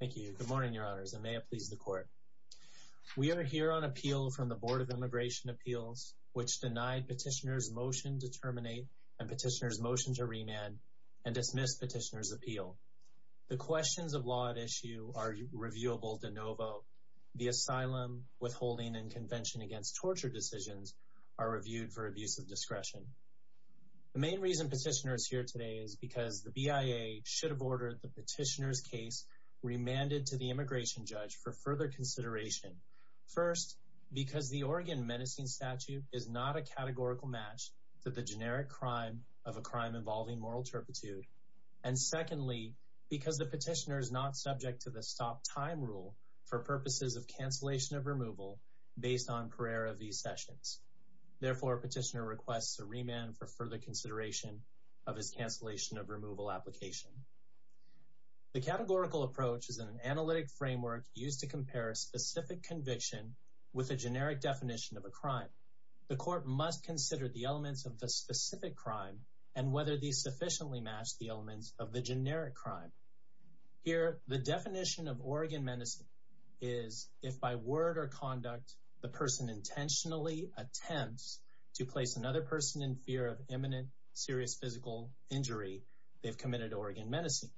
Thank you. Good morning, Your Honors, and may it please the Court. We are here on appeal from the Board of Immigration Appeals, which denied Petitioner's motion to terminate and Petitioner's motion to remand and dismissed Petitioner's appeal. The questions of law at issue are reviewable de novo. The asylum, withholding, and convention against torture decisions are reviewed for abuse of discretion. The main reason Petitioner is here today is because the BIA should have ordered the Petitioner's remanded to the immigration judge for further consideration. First, because the Oregon menacing statute is not a categorical match to the generic crime of a crime involving moral turpitude. And secondly, because the Petitioner is not subject to the stop time rule for purposes of cancellation of removal based on prayer of these sessions. Therefore, Petitioner requests a remand for further consideration of his cancellation of removal application. The categorical approach is an analytic framework used to compare a specific conviction with a generic definition of a crime. The court must consider the elements of the specific crime and whether these sufficiently match the elements of the generic crime. Here, the definition of Oregon menacing is if by word or conduct the person intentionally attempts to place another person in fear of imminent serious physical injury, they've committed Oregon menacing.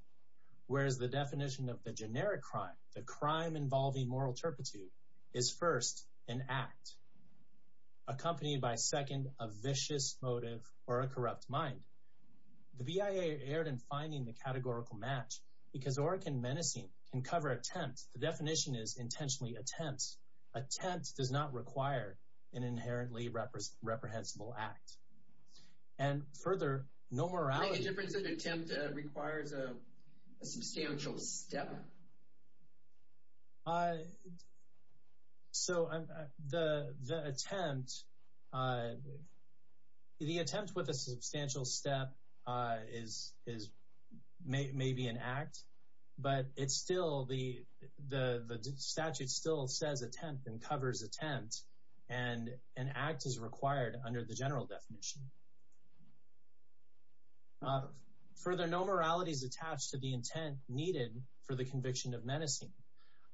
Whereas the definition of the generic crime, the crime involving moral turpitude, is first an act accompanied by second a vicious motive or a corrupt mind. The BIA erred in finding the categorical match because Oregon menacing can cover attempts. The definition is intentionally attempts. Attempts does not require an inherently reprehensible act. And further, no morality difference in attempt requires a substantial step. So, the attempt, the attempt with a substantial step is maybe an act, but it's still the the statute still says attempt and covers attempt and an act is required under the general definition. Further, no morality is attached to the intent needed for the conviction of menacing.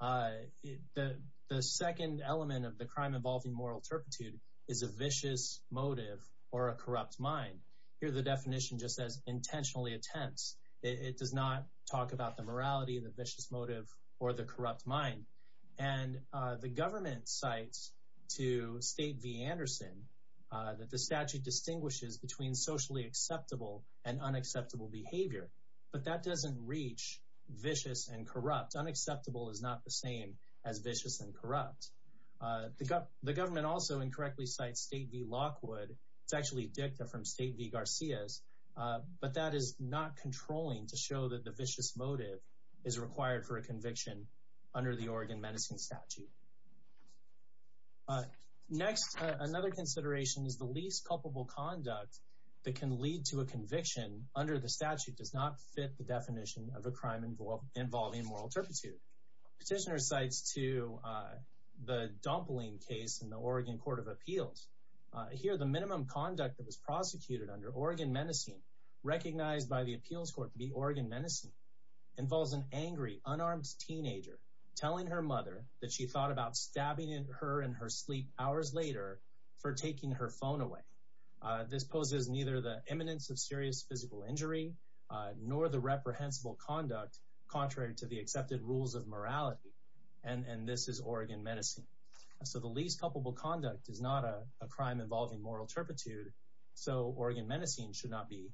The second element of the crime involving moral turpitude is a vicious motive or a corrupt mind. Here, the definition just says intentionally attempts. It does not talk about the morality, the vicious motive, or the corrupt mind. And the government cites to State v. Anderson that the statute distinguishes between socially acceptable and unacceptable behavior, but that doesn't reach vicious and corrupt. Unacceptable is not the same as vicious and corrupt. The government also incorrectly cites State v. Lockwood. It's actually a dicta from State v. Garcia's, but that is not controlling to show that the vicious motive is required for a conviction under the Oregon menacing statute. Next, another consideration is the least culpable conduct that can lead to a conviction under the statute does not fit the definition of a crime involving moral turpitude. Petitioner cites to the Dompoline case in the Oregon Court of Appeals. Here, the minimum conduct that was prosecuted under Oregon menacing recognized by the appeals court to be Oregon menacing involves an angry, unarmed teenager telling her mother that she thought about stabbing her in her sleep hours later for taking her phone away. This poses neither the imminence of serious physical injury nor the reprehensible conduct contrary to the accepted rules of morality. And this is Oregon menacing. So the least culpable conduct is not a crime involving moral turpitude, so Oregon menacing should not be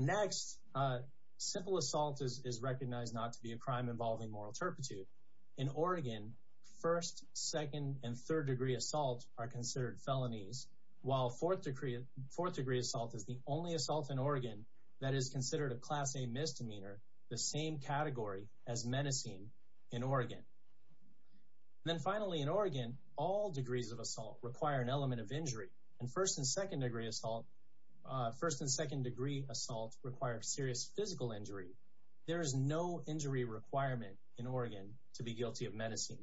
Next, simple assault is recognized not to be a crime involving moral turpitude. In Oregon, first, second, and third degree assaults are considered felonies, while fourth degree assault is the only assault in Oregon that is considered a Class A misdemeanor, the same category as menacing in Oregon. Then finally, in Oregon, all degrees of assault require an element of injury, and first and second degree assault require serious physical injury. There is no injury requirement in Oregon to be guilty of menacing.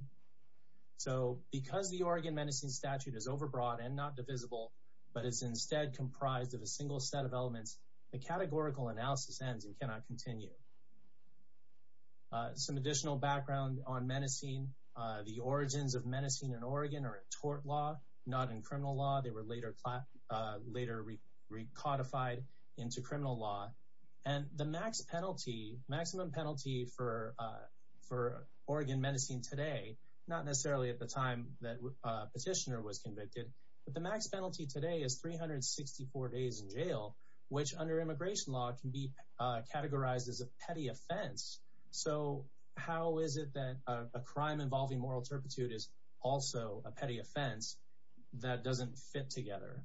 So because the Oregon menacing statute is overbroad and not divisible, but is instead comprised of a single set of elements, the categorical analysis ends and cannot continue. Some additional background on menacing, the origins of menacing in Oregon are a tort law, not in criminal law. They were later codified into criminal law. And the max penalty, maximum penalty for Oregon menacing today, not necessarily at the time that a petitioner was convicted, but the max penalty today is 364 days in jail, which under immigration law can be categorized as a petty offense. So how is it that a crime involving moral turpitude is also a petty offense that doesn't fit together?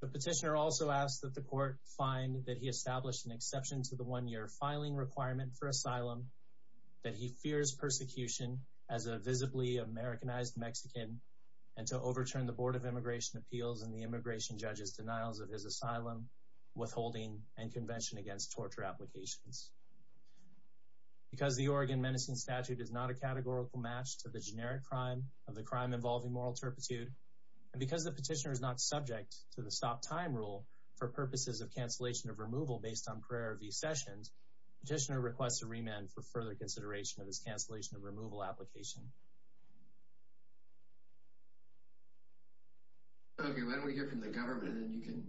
The petitioner also asks that the court find that he established an exception to the one-year filing requirement for asylum, that he fears persecution as a visibly Americanized Mexican, and to overturn the Board of Immigration Appeals and the immigration judge's denials of his asylum, withholding, and convention against torture applications. Because the Oregon menacing statute is not a categorical match to the generic crime of the crime involving moral turpitude, and because the petitioner is not subject to the stop time rule for purposes of cancellation of removal based on prior v sessions, petitioner requests a remand for further consideration of his cancellation of removal application. Okay, why don't we hear from the government and then you can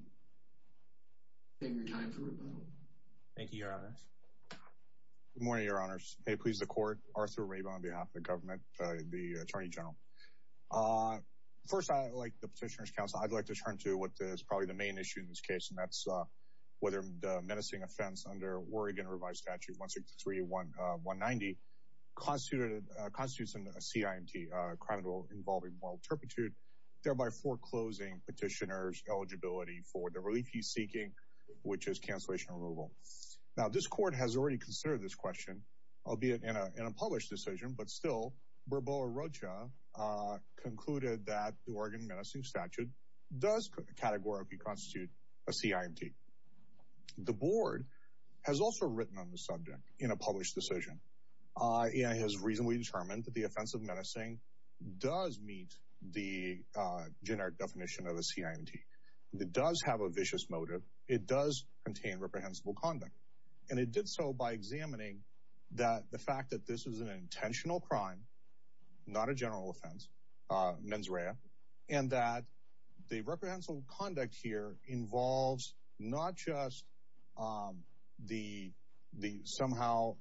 take your time for rebuttal. Thank you, your honors. Good morning, your honors. May it please the court, Arthur Rabin on behalf of the government, the attorney general. First, I'd like the petitioner's counsel, I'd like to turn to what is probably the main issue in this case, and that's whether the menacing offense under Oregon revised statute 163.190 constitutes a CIMT, a crime involving moral turpitude, which is cancellation removal. Now, this court has already considered this question, albeit in a published decision, but still, Barboa Rocha concluded that the Oregon menacing statute does categorically constitute a CIMT. The board has also written on the subject in a published decision, and has reasonably determined that the offense of menacing does meet the generic definition of a CIMT. It does have a vicious motive, it does contain reprehensible conduct, and it did so by examining that the fact that this is an intentional crime, not a general offense, mens rea, and that the reprehensible conduct here involves not just the somehow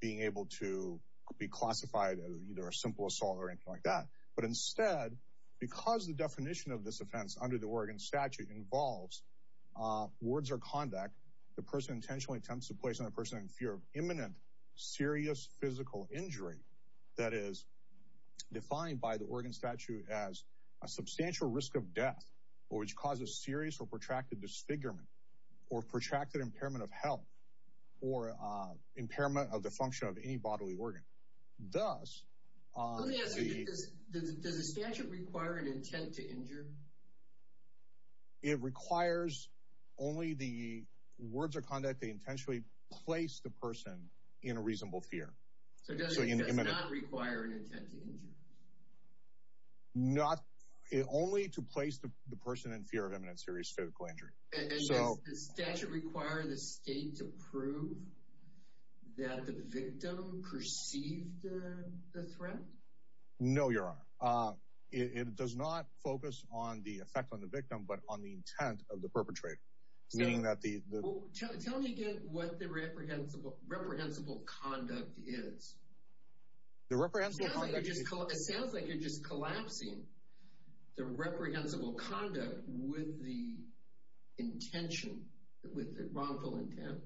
being able to be classified as either a simple assault or anything like that, but instead, because the definition of this offense under the Oregon statute involves words or conduct, the person intentionally attempts to place on the person in fear of imminent serious physical injury, that is defined by the Oregon statute as a substantial risk of death, or which causes serious or protracted disfigurement, or protracted impairment of health, or impairment of the function of any bodily organ. Does the statute require an intent to injure? It requires only the words or conduct they intentionally place the person in a reasonable fear. So it does not require an intent to injure? Not, only to place the person in fear of imminent serious physical injury. Does the statute require the state to prove that the victim perceived the threat? No, your honor. It does not focus on the effect on the victim, but on the intent of the perpetrator, meaning that the... Tell me again what the reprehensible conduct is. The reprehensible conduct... It sounds like you're just collapsing the reprehensible conduct with the intention, with the wrongful intent.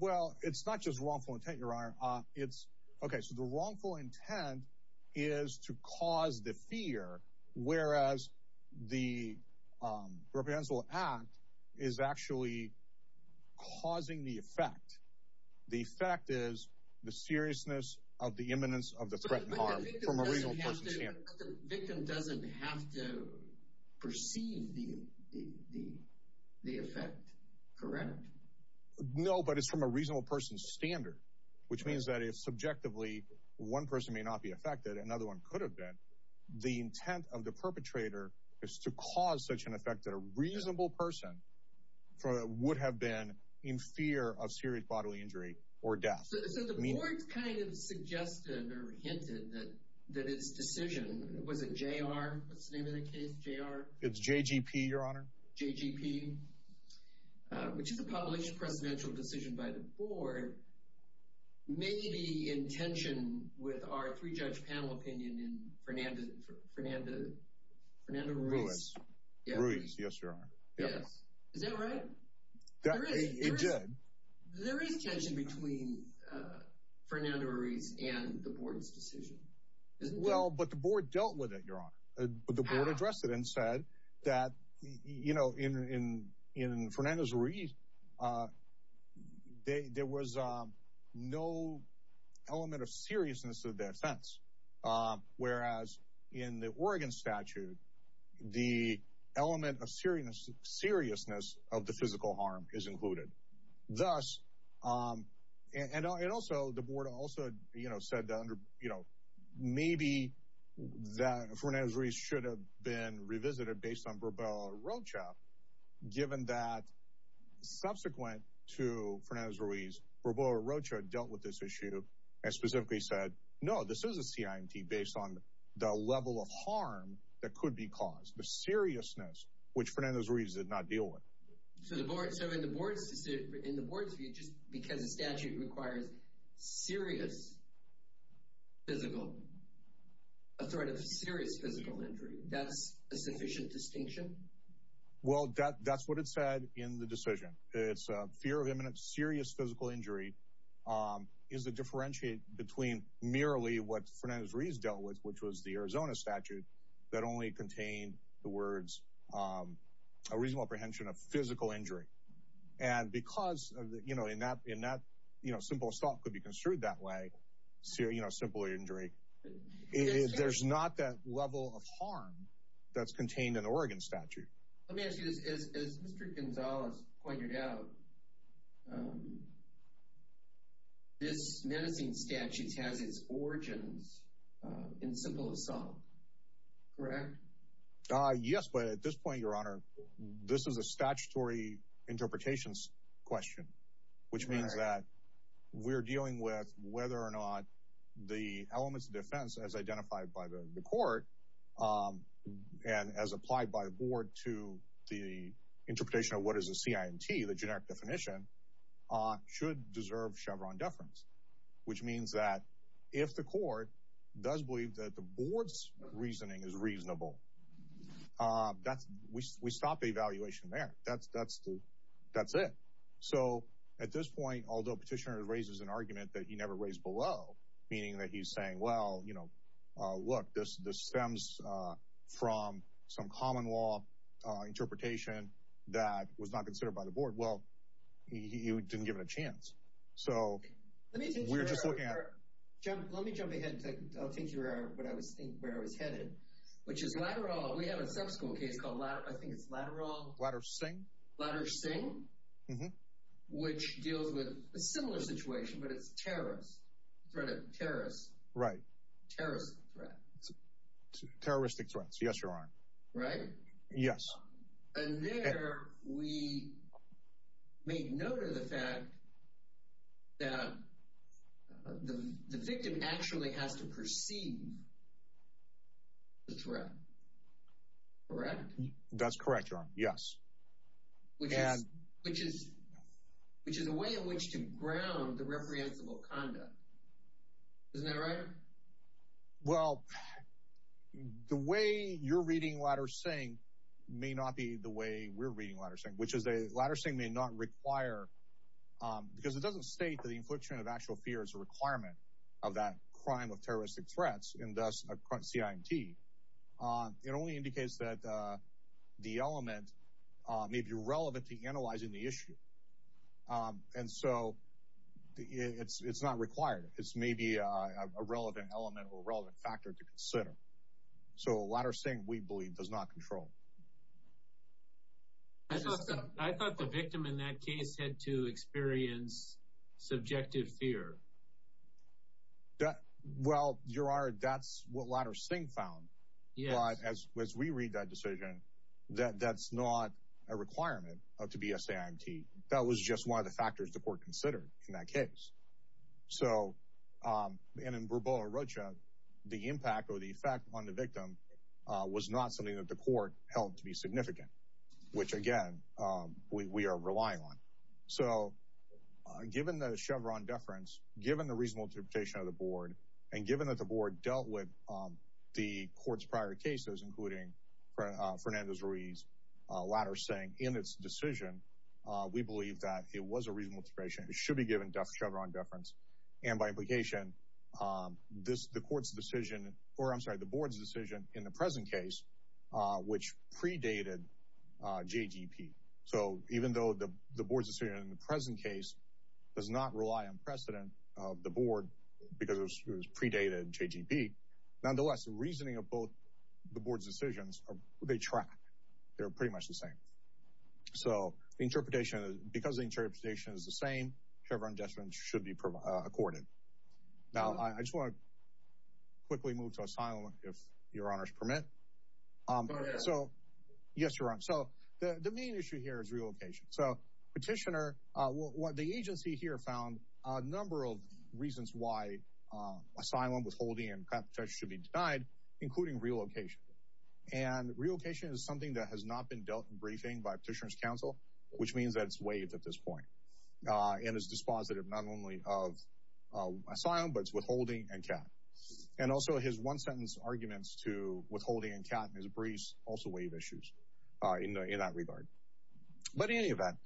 Well, it's not just wrongful intent, your honor. It's... Okay, so the wrongful intent is to cause the fear, whereas the reprehensible act is actually causing the effect. The effect is the seriousness of the imminence of the threat and harm from a reasonable person's standard. The victim doesn't have to perceive the effect, correct? No, but it's from a reasonable person's standard, which means that if subjectively one person may not be affected, another one could have been, the intent of the perpetrator is to cause such an effect that a reasonable person would have been in fear of serious bodily injury or death. So the board kind of suggested or hinted that that its decision, was it J.R.? What's the name of the case? J.R.? It's J.G.P., your honor. J.G.P., which is a published presidential decision by the board, may be in tension with our three-judge panel opinion in Fernanda Ruiz. Ruiz, yes, your honor. Yes, is that right? It did. There is tension between Fernanda Ruiz and the board's decision. Well, but the board dealt with it, your honor. The board addressed it and said that, you know, in Fernanda Ruiz, there was no element of seriousness of their offense, whereas in the Oregon statute, the element of seriousness of the physical harm is included. Thus, and also, the board also, you know, said that, you know, maybe that Fernanda Ruiz should have been revisited based on Barboa Rocha, given that subsequent to Fernanda Ruiz, Barboa Rocha dealt with this issue and specifically said, no, this is a CIMT based on the level of harm that could be caused, the seriousness, which Fernanda Ruiz did not deal with. So the board, so in the board's, in the board's view, just because a statute requires serious physical, a threat of serious physical injury, that's a sufficient distinction? Well, that's what it said in the decision. It's a fear of imminent serious physical injury is to differentiate between merely what Fernanda Ruiz dealt with, which was the Arizona statute, that only contained the words, a reasonable apprehension of physical injury. And because, you know, in that, in that, you know, simple assault could be construed that way, you know, simple injury, there's not that level of harm that's contained in the Oregon statute. Let me ask you this, as Mr. Gonzalez pointed out, this menacing statute has its origins in simple assault, correct? Yes, but at this point, Your Honor, this is a statutory interpretations question, which means that we're dealing with whether or not the elements of defense, as identified by the court, and as applied by the board to the interpretation of what is a CIMT, the generic definition, should deserve Chevron deference, which means that if the court does believe that the board's reasoning is reasonable, that's, we stop the evaluation there. That's, that's the, that's it. So at this point, although Petitioner raises an argument that he never raised below, meaning that he's saying, well, you know, look, this, this stems from some common law interpretation that was not considered by the board, well, you didn't give it a chance. So, we're just looking at... Let me jump ahead and take, I'll take you where I was headed, which is lateral, we have a sub-school case called, I think it's lateral... Latter-Singh. Latter-Singh, which deals with a similar situation, but it's terrorist, threat of terrorists. Right. Terrorist threat. Terroristic threats, yes, Your Honor. Right? Yes. And there, we made note of the fact that the victim actually has to perceive the threat. Correct? That's correct, Your Honor, yes. Which is, which is, which is a way in which to ground the reprehensible conduct. Isn't that right? Well, the way you're reading Latter-Singh may not be the way we're reading Latter-Singh, which is that Latter-Singh may not require, because it doesn't state that the infliction of actual fear is a requirement of that crime of terroristic threats, and thus a CIMT. It only indicates that the element may be relevant to analyzing the It's maybe a relevant element or a relevant factor to consider. So, Latter-Singh, we believe, does not control. I thought the victim in that case had to experience subjective fear. Well, Your Honor, that's what Latter-Singh found, but as we read that decision, that that's not a requirement to be a CIMT. That was just one of the factors the court considered in that case. So, and in Brubo and Rocha, the impact or the effect on the victim was not something that the court held to be significant, which, again, we are relying on. So, given the Chevron deference, given the reasonable interpretation of the board, and given that the board dealt with the court's prior cases, including Fernandez-Ruiz, Latter-Singh, in its decision, we believe that it was a reasonable expression. It should be given Chevron deference, and by implication, the court's decision, or, I'm sorry, the board's decision in the present case, which predated JGP. So, even though the board's decision in the present case does not rely on precedent of the board because it was predated JGP, nonetheless, the reasoning of both the board's decisions, they track. They're pretty much the same. So, the interpretation, because the interpretation is the same, Chevron deference should be accorded. Now, I just want to quickly move to asylum, if your honors permit. So, yes, your honor. So, the main issue here is relocation. So, Petitioner, the agency here found a number of reasons why asylum, withholding, and contract should be denied, including relocation. And relocation is something that has not been dealt in briefing by Petitioner's counsel, which means that it's waived at this point. And it's dispositive not only of asylum, but it's withholding and CAT. And also, his one-sentence arguments to withholding and CAT and his briefs also waive issues in that regard. But in any event,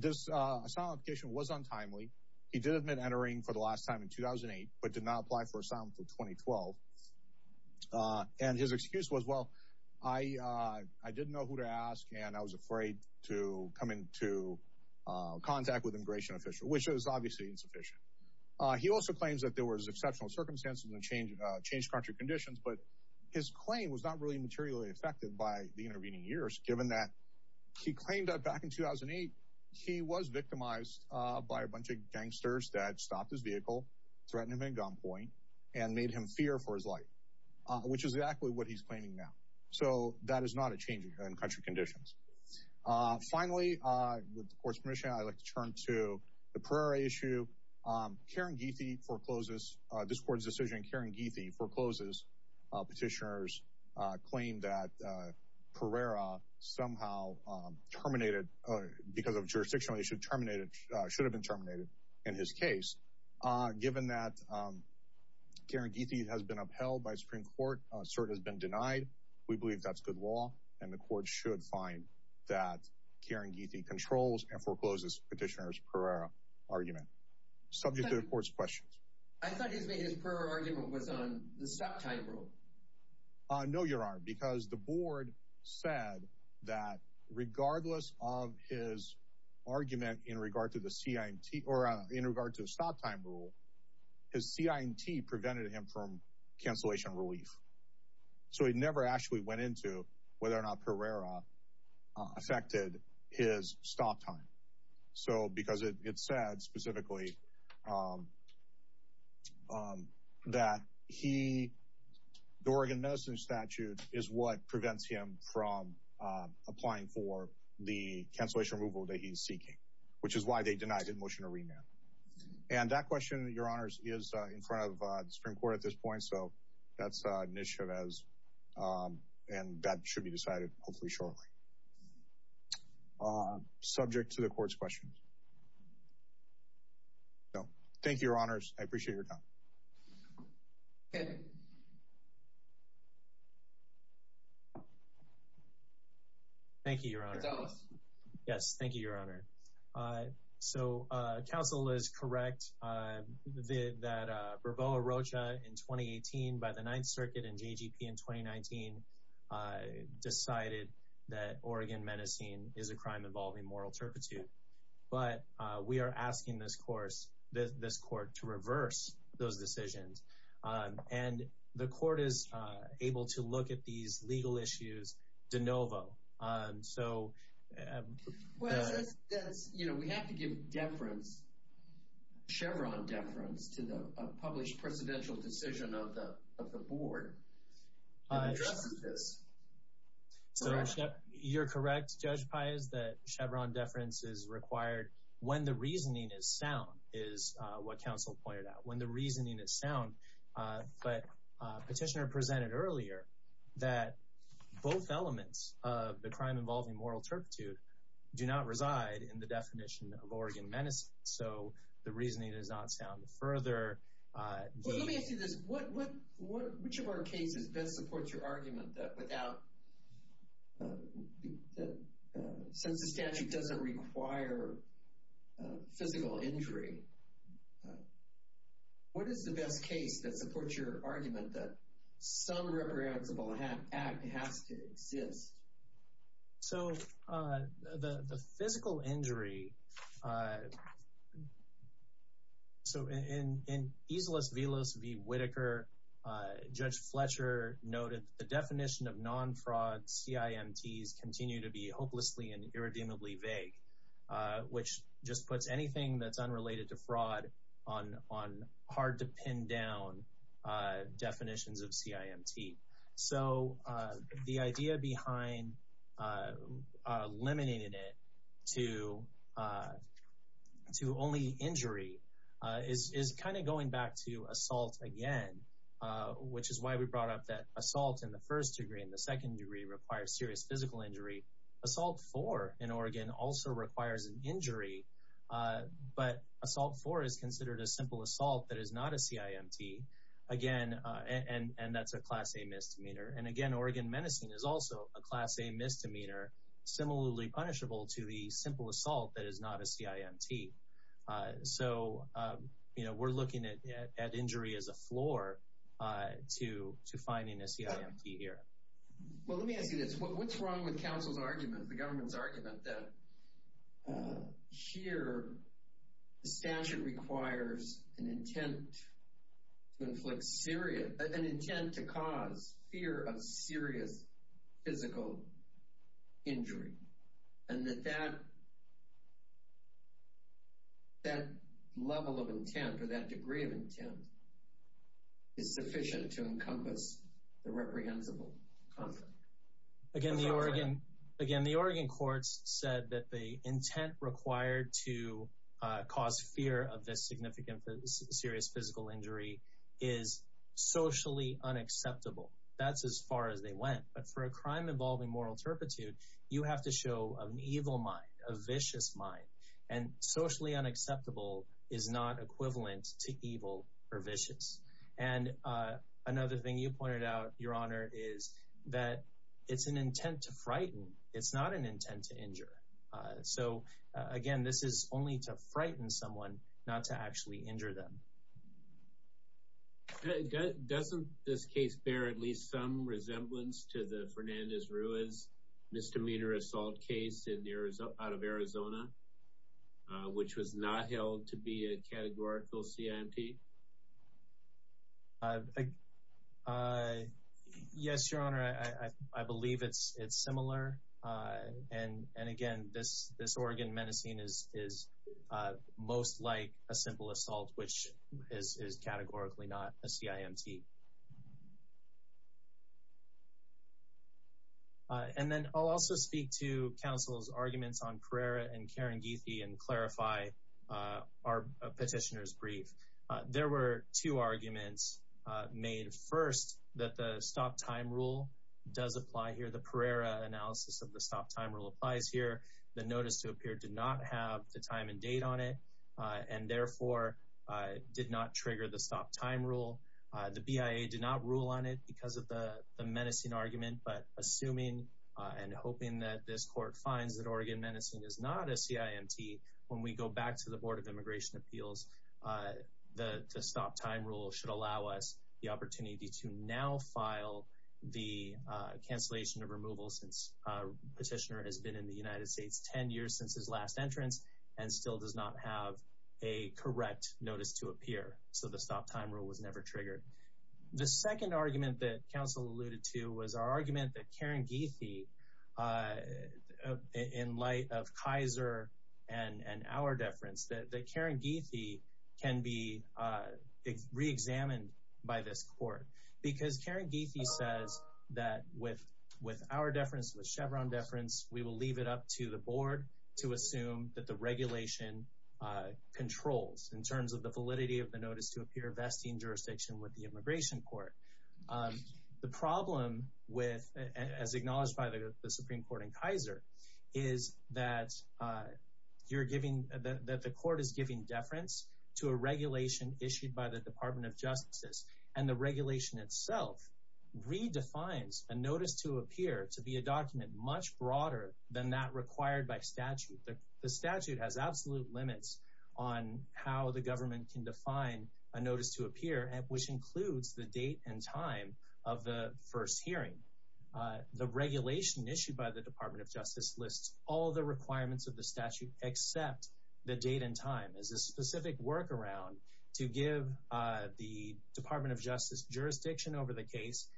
this asylum application was untimely. He did admit entering for the last time in 2008, but did not apply for asylum until 2012. And his excuse was, well, I didn't know who to ask and I was afraid to come into contact with an immigration official, which was obviously insufficient. He also claims that there was exceptional circumstances and changed country conditions, but his claim was not really materially affected by the intervening years, given that he claimed that back in 2008, he was victimized by a bunch of gangsters that stopped his vehicle, threatened him at gunpoint, and made him fear for his life, which is exactly what he's claiming now. So that is not a change in country conditions. Finally, with the Court's permission, I'd like to turn to the Pereira issue. Karen Geethy forecloses this Court's decision. Karen Geethy forecloses Petitioner's claim that Pereira somehow terminated, because of jurisdictional issue, terminated, should have been terminated in his case. Given that Karen Geethy has been upheld by Supreme Court, cert has been denied, we believe that's good law, and the Court should find that Karen Geethy controls and forecloses Petitioner's Pereira argument. Subject to the Court's questions. I thought his Pereira argument was on the stop time rule. No, Your Honor, because the Board said that regardless of his argument in regard to the CINT, or in regard to the stop time rule, his CINT prevented him from cancellation relief. So he never actually went into whether or not Pereira affected his stop time. So because it said specifically that he, the Oregon Medicine Statute, is what prevents him from applying for the cancellation removal that he's seeking, which is why they denied him motion to remand. And that question, Your Honors, is in front of the Supreme Court at this point, so that's an issue, and that should be decided hopefully shortly. Subject to the Court's questions. Thank you, Your Honors. I appreciate your time. Okay. Thank you, Your Honor. It's Ellis. Yes, thank you, Your Honor. So, counsel is correct that Bravoa Rocha in 2018, by the Ninth Circuit and JGP in 2019, decided that Oregon Medicine is a crime involving moral turpitude. But we are asking this Court to reverse those decisions. And the Court is able to look at these legal issues de novo. You know, we have to give deference, Chevron deference, to the published presidential decision of the Board. Can you address this? You're correct, Judge Pius, that Chevron deference is required when the reasoning is sound, is what counsel pointed out. When the reasoning is sound, but Petitioner presented earlier that both elements of the crime involving moral turpitude do not reside in the definition of Oregon Medicine. So, the reasoning is not sound. Further... Let me ask you this. Which of our cases best supports your argument that without... Since the statute doesn't require physical injury, what is the best case that supports your argument that some reprehensible act has to exist? So, the physical injury... So, in Islas Villas v. Whitaker, Judge Fletcher noted the definition of non-fraud CIMTs continue to be hopelessly and irredeemably vague, which just puts anything that's unrelated to fraud on hard-to-pin-down definitions of CIMT. So, the idea behind limiting it to only injury is kind of going back to assault again, which is why we brought up that assault in the first degree and the second degree requires serious physical injury. Assault four in Oregon also requires an injury, but assault four is considered a simple assault that is not a CIMT. Again, and that's a Class A misdemeanor. And again, Oregon menacing is also a Class A misdemeanor similarly punishable to the simple assault that is not a CIMT. So, you know, we're looking at injury as a floor to finding a CIMT here. Well, let me ask you this. That here the statute requires an intent to inflict serious, an intent to cause fear of serious physical injury and that that level of intent or that degree of intent is sufficient to encompass the reprehensible conflict. Again, the Oregon courts said that the intent required to cause fear of this significant serious physical injury is socially unacceptable. That's as far as they went. But for a crime involving moral turpitude, you have to show an evil mind, a vicious mind. And socially unacceptable is not equivalent to evil or vicious. And another thing you pointed out, Your Honor, is that it's an intent to frighten. It's not an intent to injure. So again, this is only to frighten someone, not to actually injure them. Doesn't this case bear at least some resemblance to the Fernandez-Ruiz misdemeanor assault case out of Arizona, which was not held to be a categorical CIMT? Yes, Your Honor, I believe it's similar. And again, this Oregon menacing is most like a simple assault, which is categorically not a CIMT. And then I'll also speak to counsel's arguments on Pereira and Karen Geethy and clarify our petitioner's brief. There were two arguments made. First, that the stop time rule does apply here. The Pereira analysis of the stop time rule applies here. The notice to appear did not have the time and date on it and therefore did not trigger the stop time rule. The BIA did not rule on it because of the menacing argument. But assuming and hoping that this court finds that Oregon menacing is not a CIMT when we go back to the Board of Immigration Appeals, the stop time rule should allow us the opportunity to now file the cancellation of removal since petitioner has been in the United States 10 years since his last entrance and still does not have a correct notice to appear. So the stop time rule was never triggered. The second argument that counsel alluded to was our argument that Karen Geethy, in light of Kaiser and our deference, that Karen Geethy can be re-examined by this court. Because Karen Geethy says that with our deference, with Chevron deference, we will leave it up to the board to assume that the regulation controls in terms of the validity of the notice to appear vesting jurisdiction with the immigration court. The problem with, as acknowledged by the Supreme Court in Kaiser, is that the court is giving deference to a regulation issued by the Department of Justice. And the regulation itself redefines a notice to appear to be a document much broader than that required by statute. The statute has absolute limits on how the government can define a notice to appear, which includes the date and time of the first hearing. The regulation issued by the Department of Justice lists all the requirements of the statute except the date and time as a specific workaround to give the Department of Justice jurisdiction over the case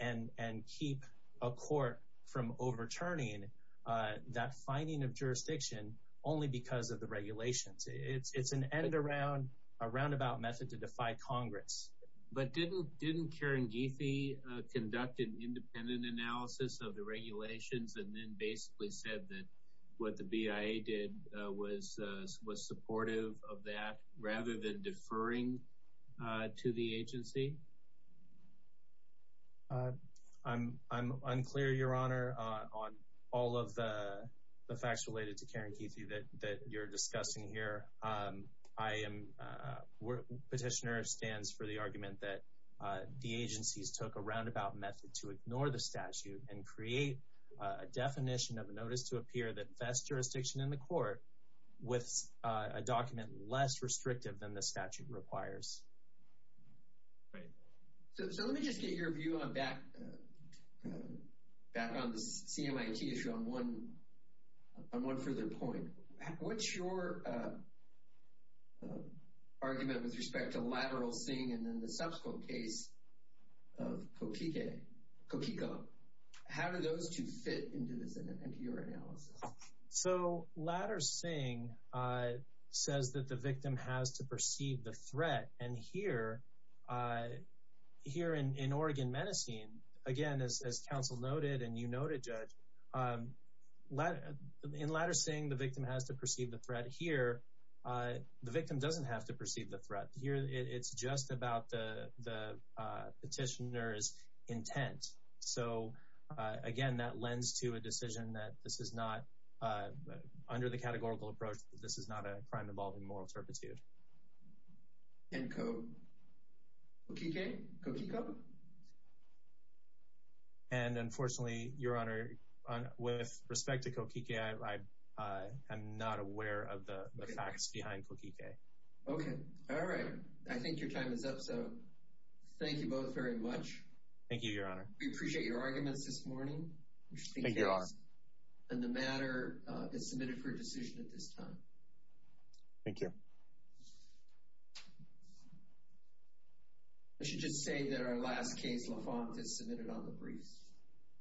and keep a court from overturning that finding of jurisdiction only because of the regulations. It's an end-around, a roundabout method to defy Congress. But didn't Karen Geethy conduct an independent analysis of the regulations and then basically said that what the BIA did was supportive of that rather than deferring to the agency? I'm unclear, Your Honor, on all of the facts related to Karen Geethy that you're discussing here. I am—petitioner stands for the argument that the agencies took a roundabout method to ignore the statute and create a definition of a notice to appear that vests jurisdiction in the court with a document less restrictive than the statute requires. Great. So let me just get your view on back— back on the CMIT issue on one further point. What's your argument with respect to Ladder Singh and then the subsequent case of Kopike—Kopiko? How do those two fit into this—into your analysis? So Ladder Singh says that the victim has to perceive the threat. And here—here in Oregon Medicine, again, as counsel noted and you noted, Judge, in Ladder Singh, the victim has to perceive the threat. Here, the victim doesn't have to perceive the threat. Here, it's just about the petitioner's intent. So, again, that lends to a decision that this is not— under the categorical approach, this is not a crime involving moral turpitude. And Kopike—Kopiko? And, unfortunately, Your Honor, with respect to Kopike, I—I am not aware of the facts behind Kopike. Okay. All right. I think your time is up, so thank you both very much. Thank you, Your Honor. We appreciate your arguments this morning. Thank you, Your Honor. And the matter is submitted for a decision at this time. Thank you. I should just say that our last case, LaFont, is submitted on the briefs.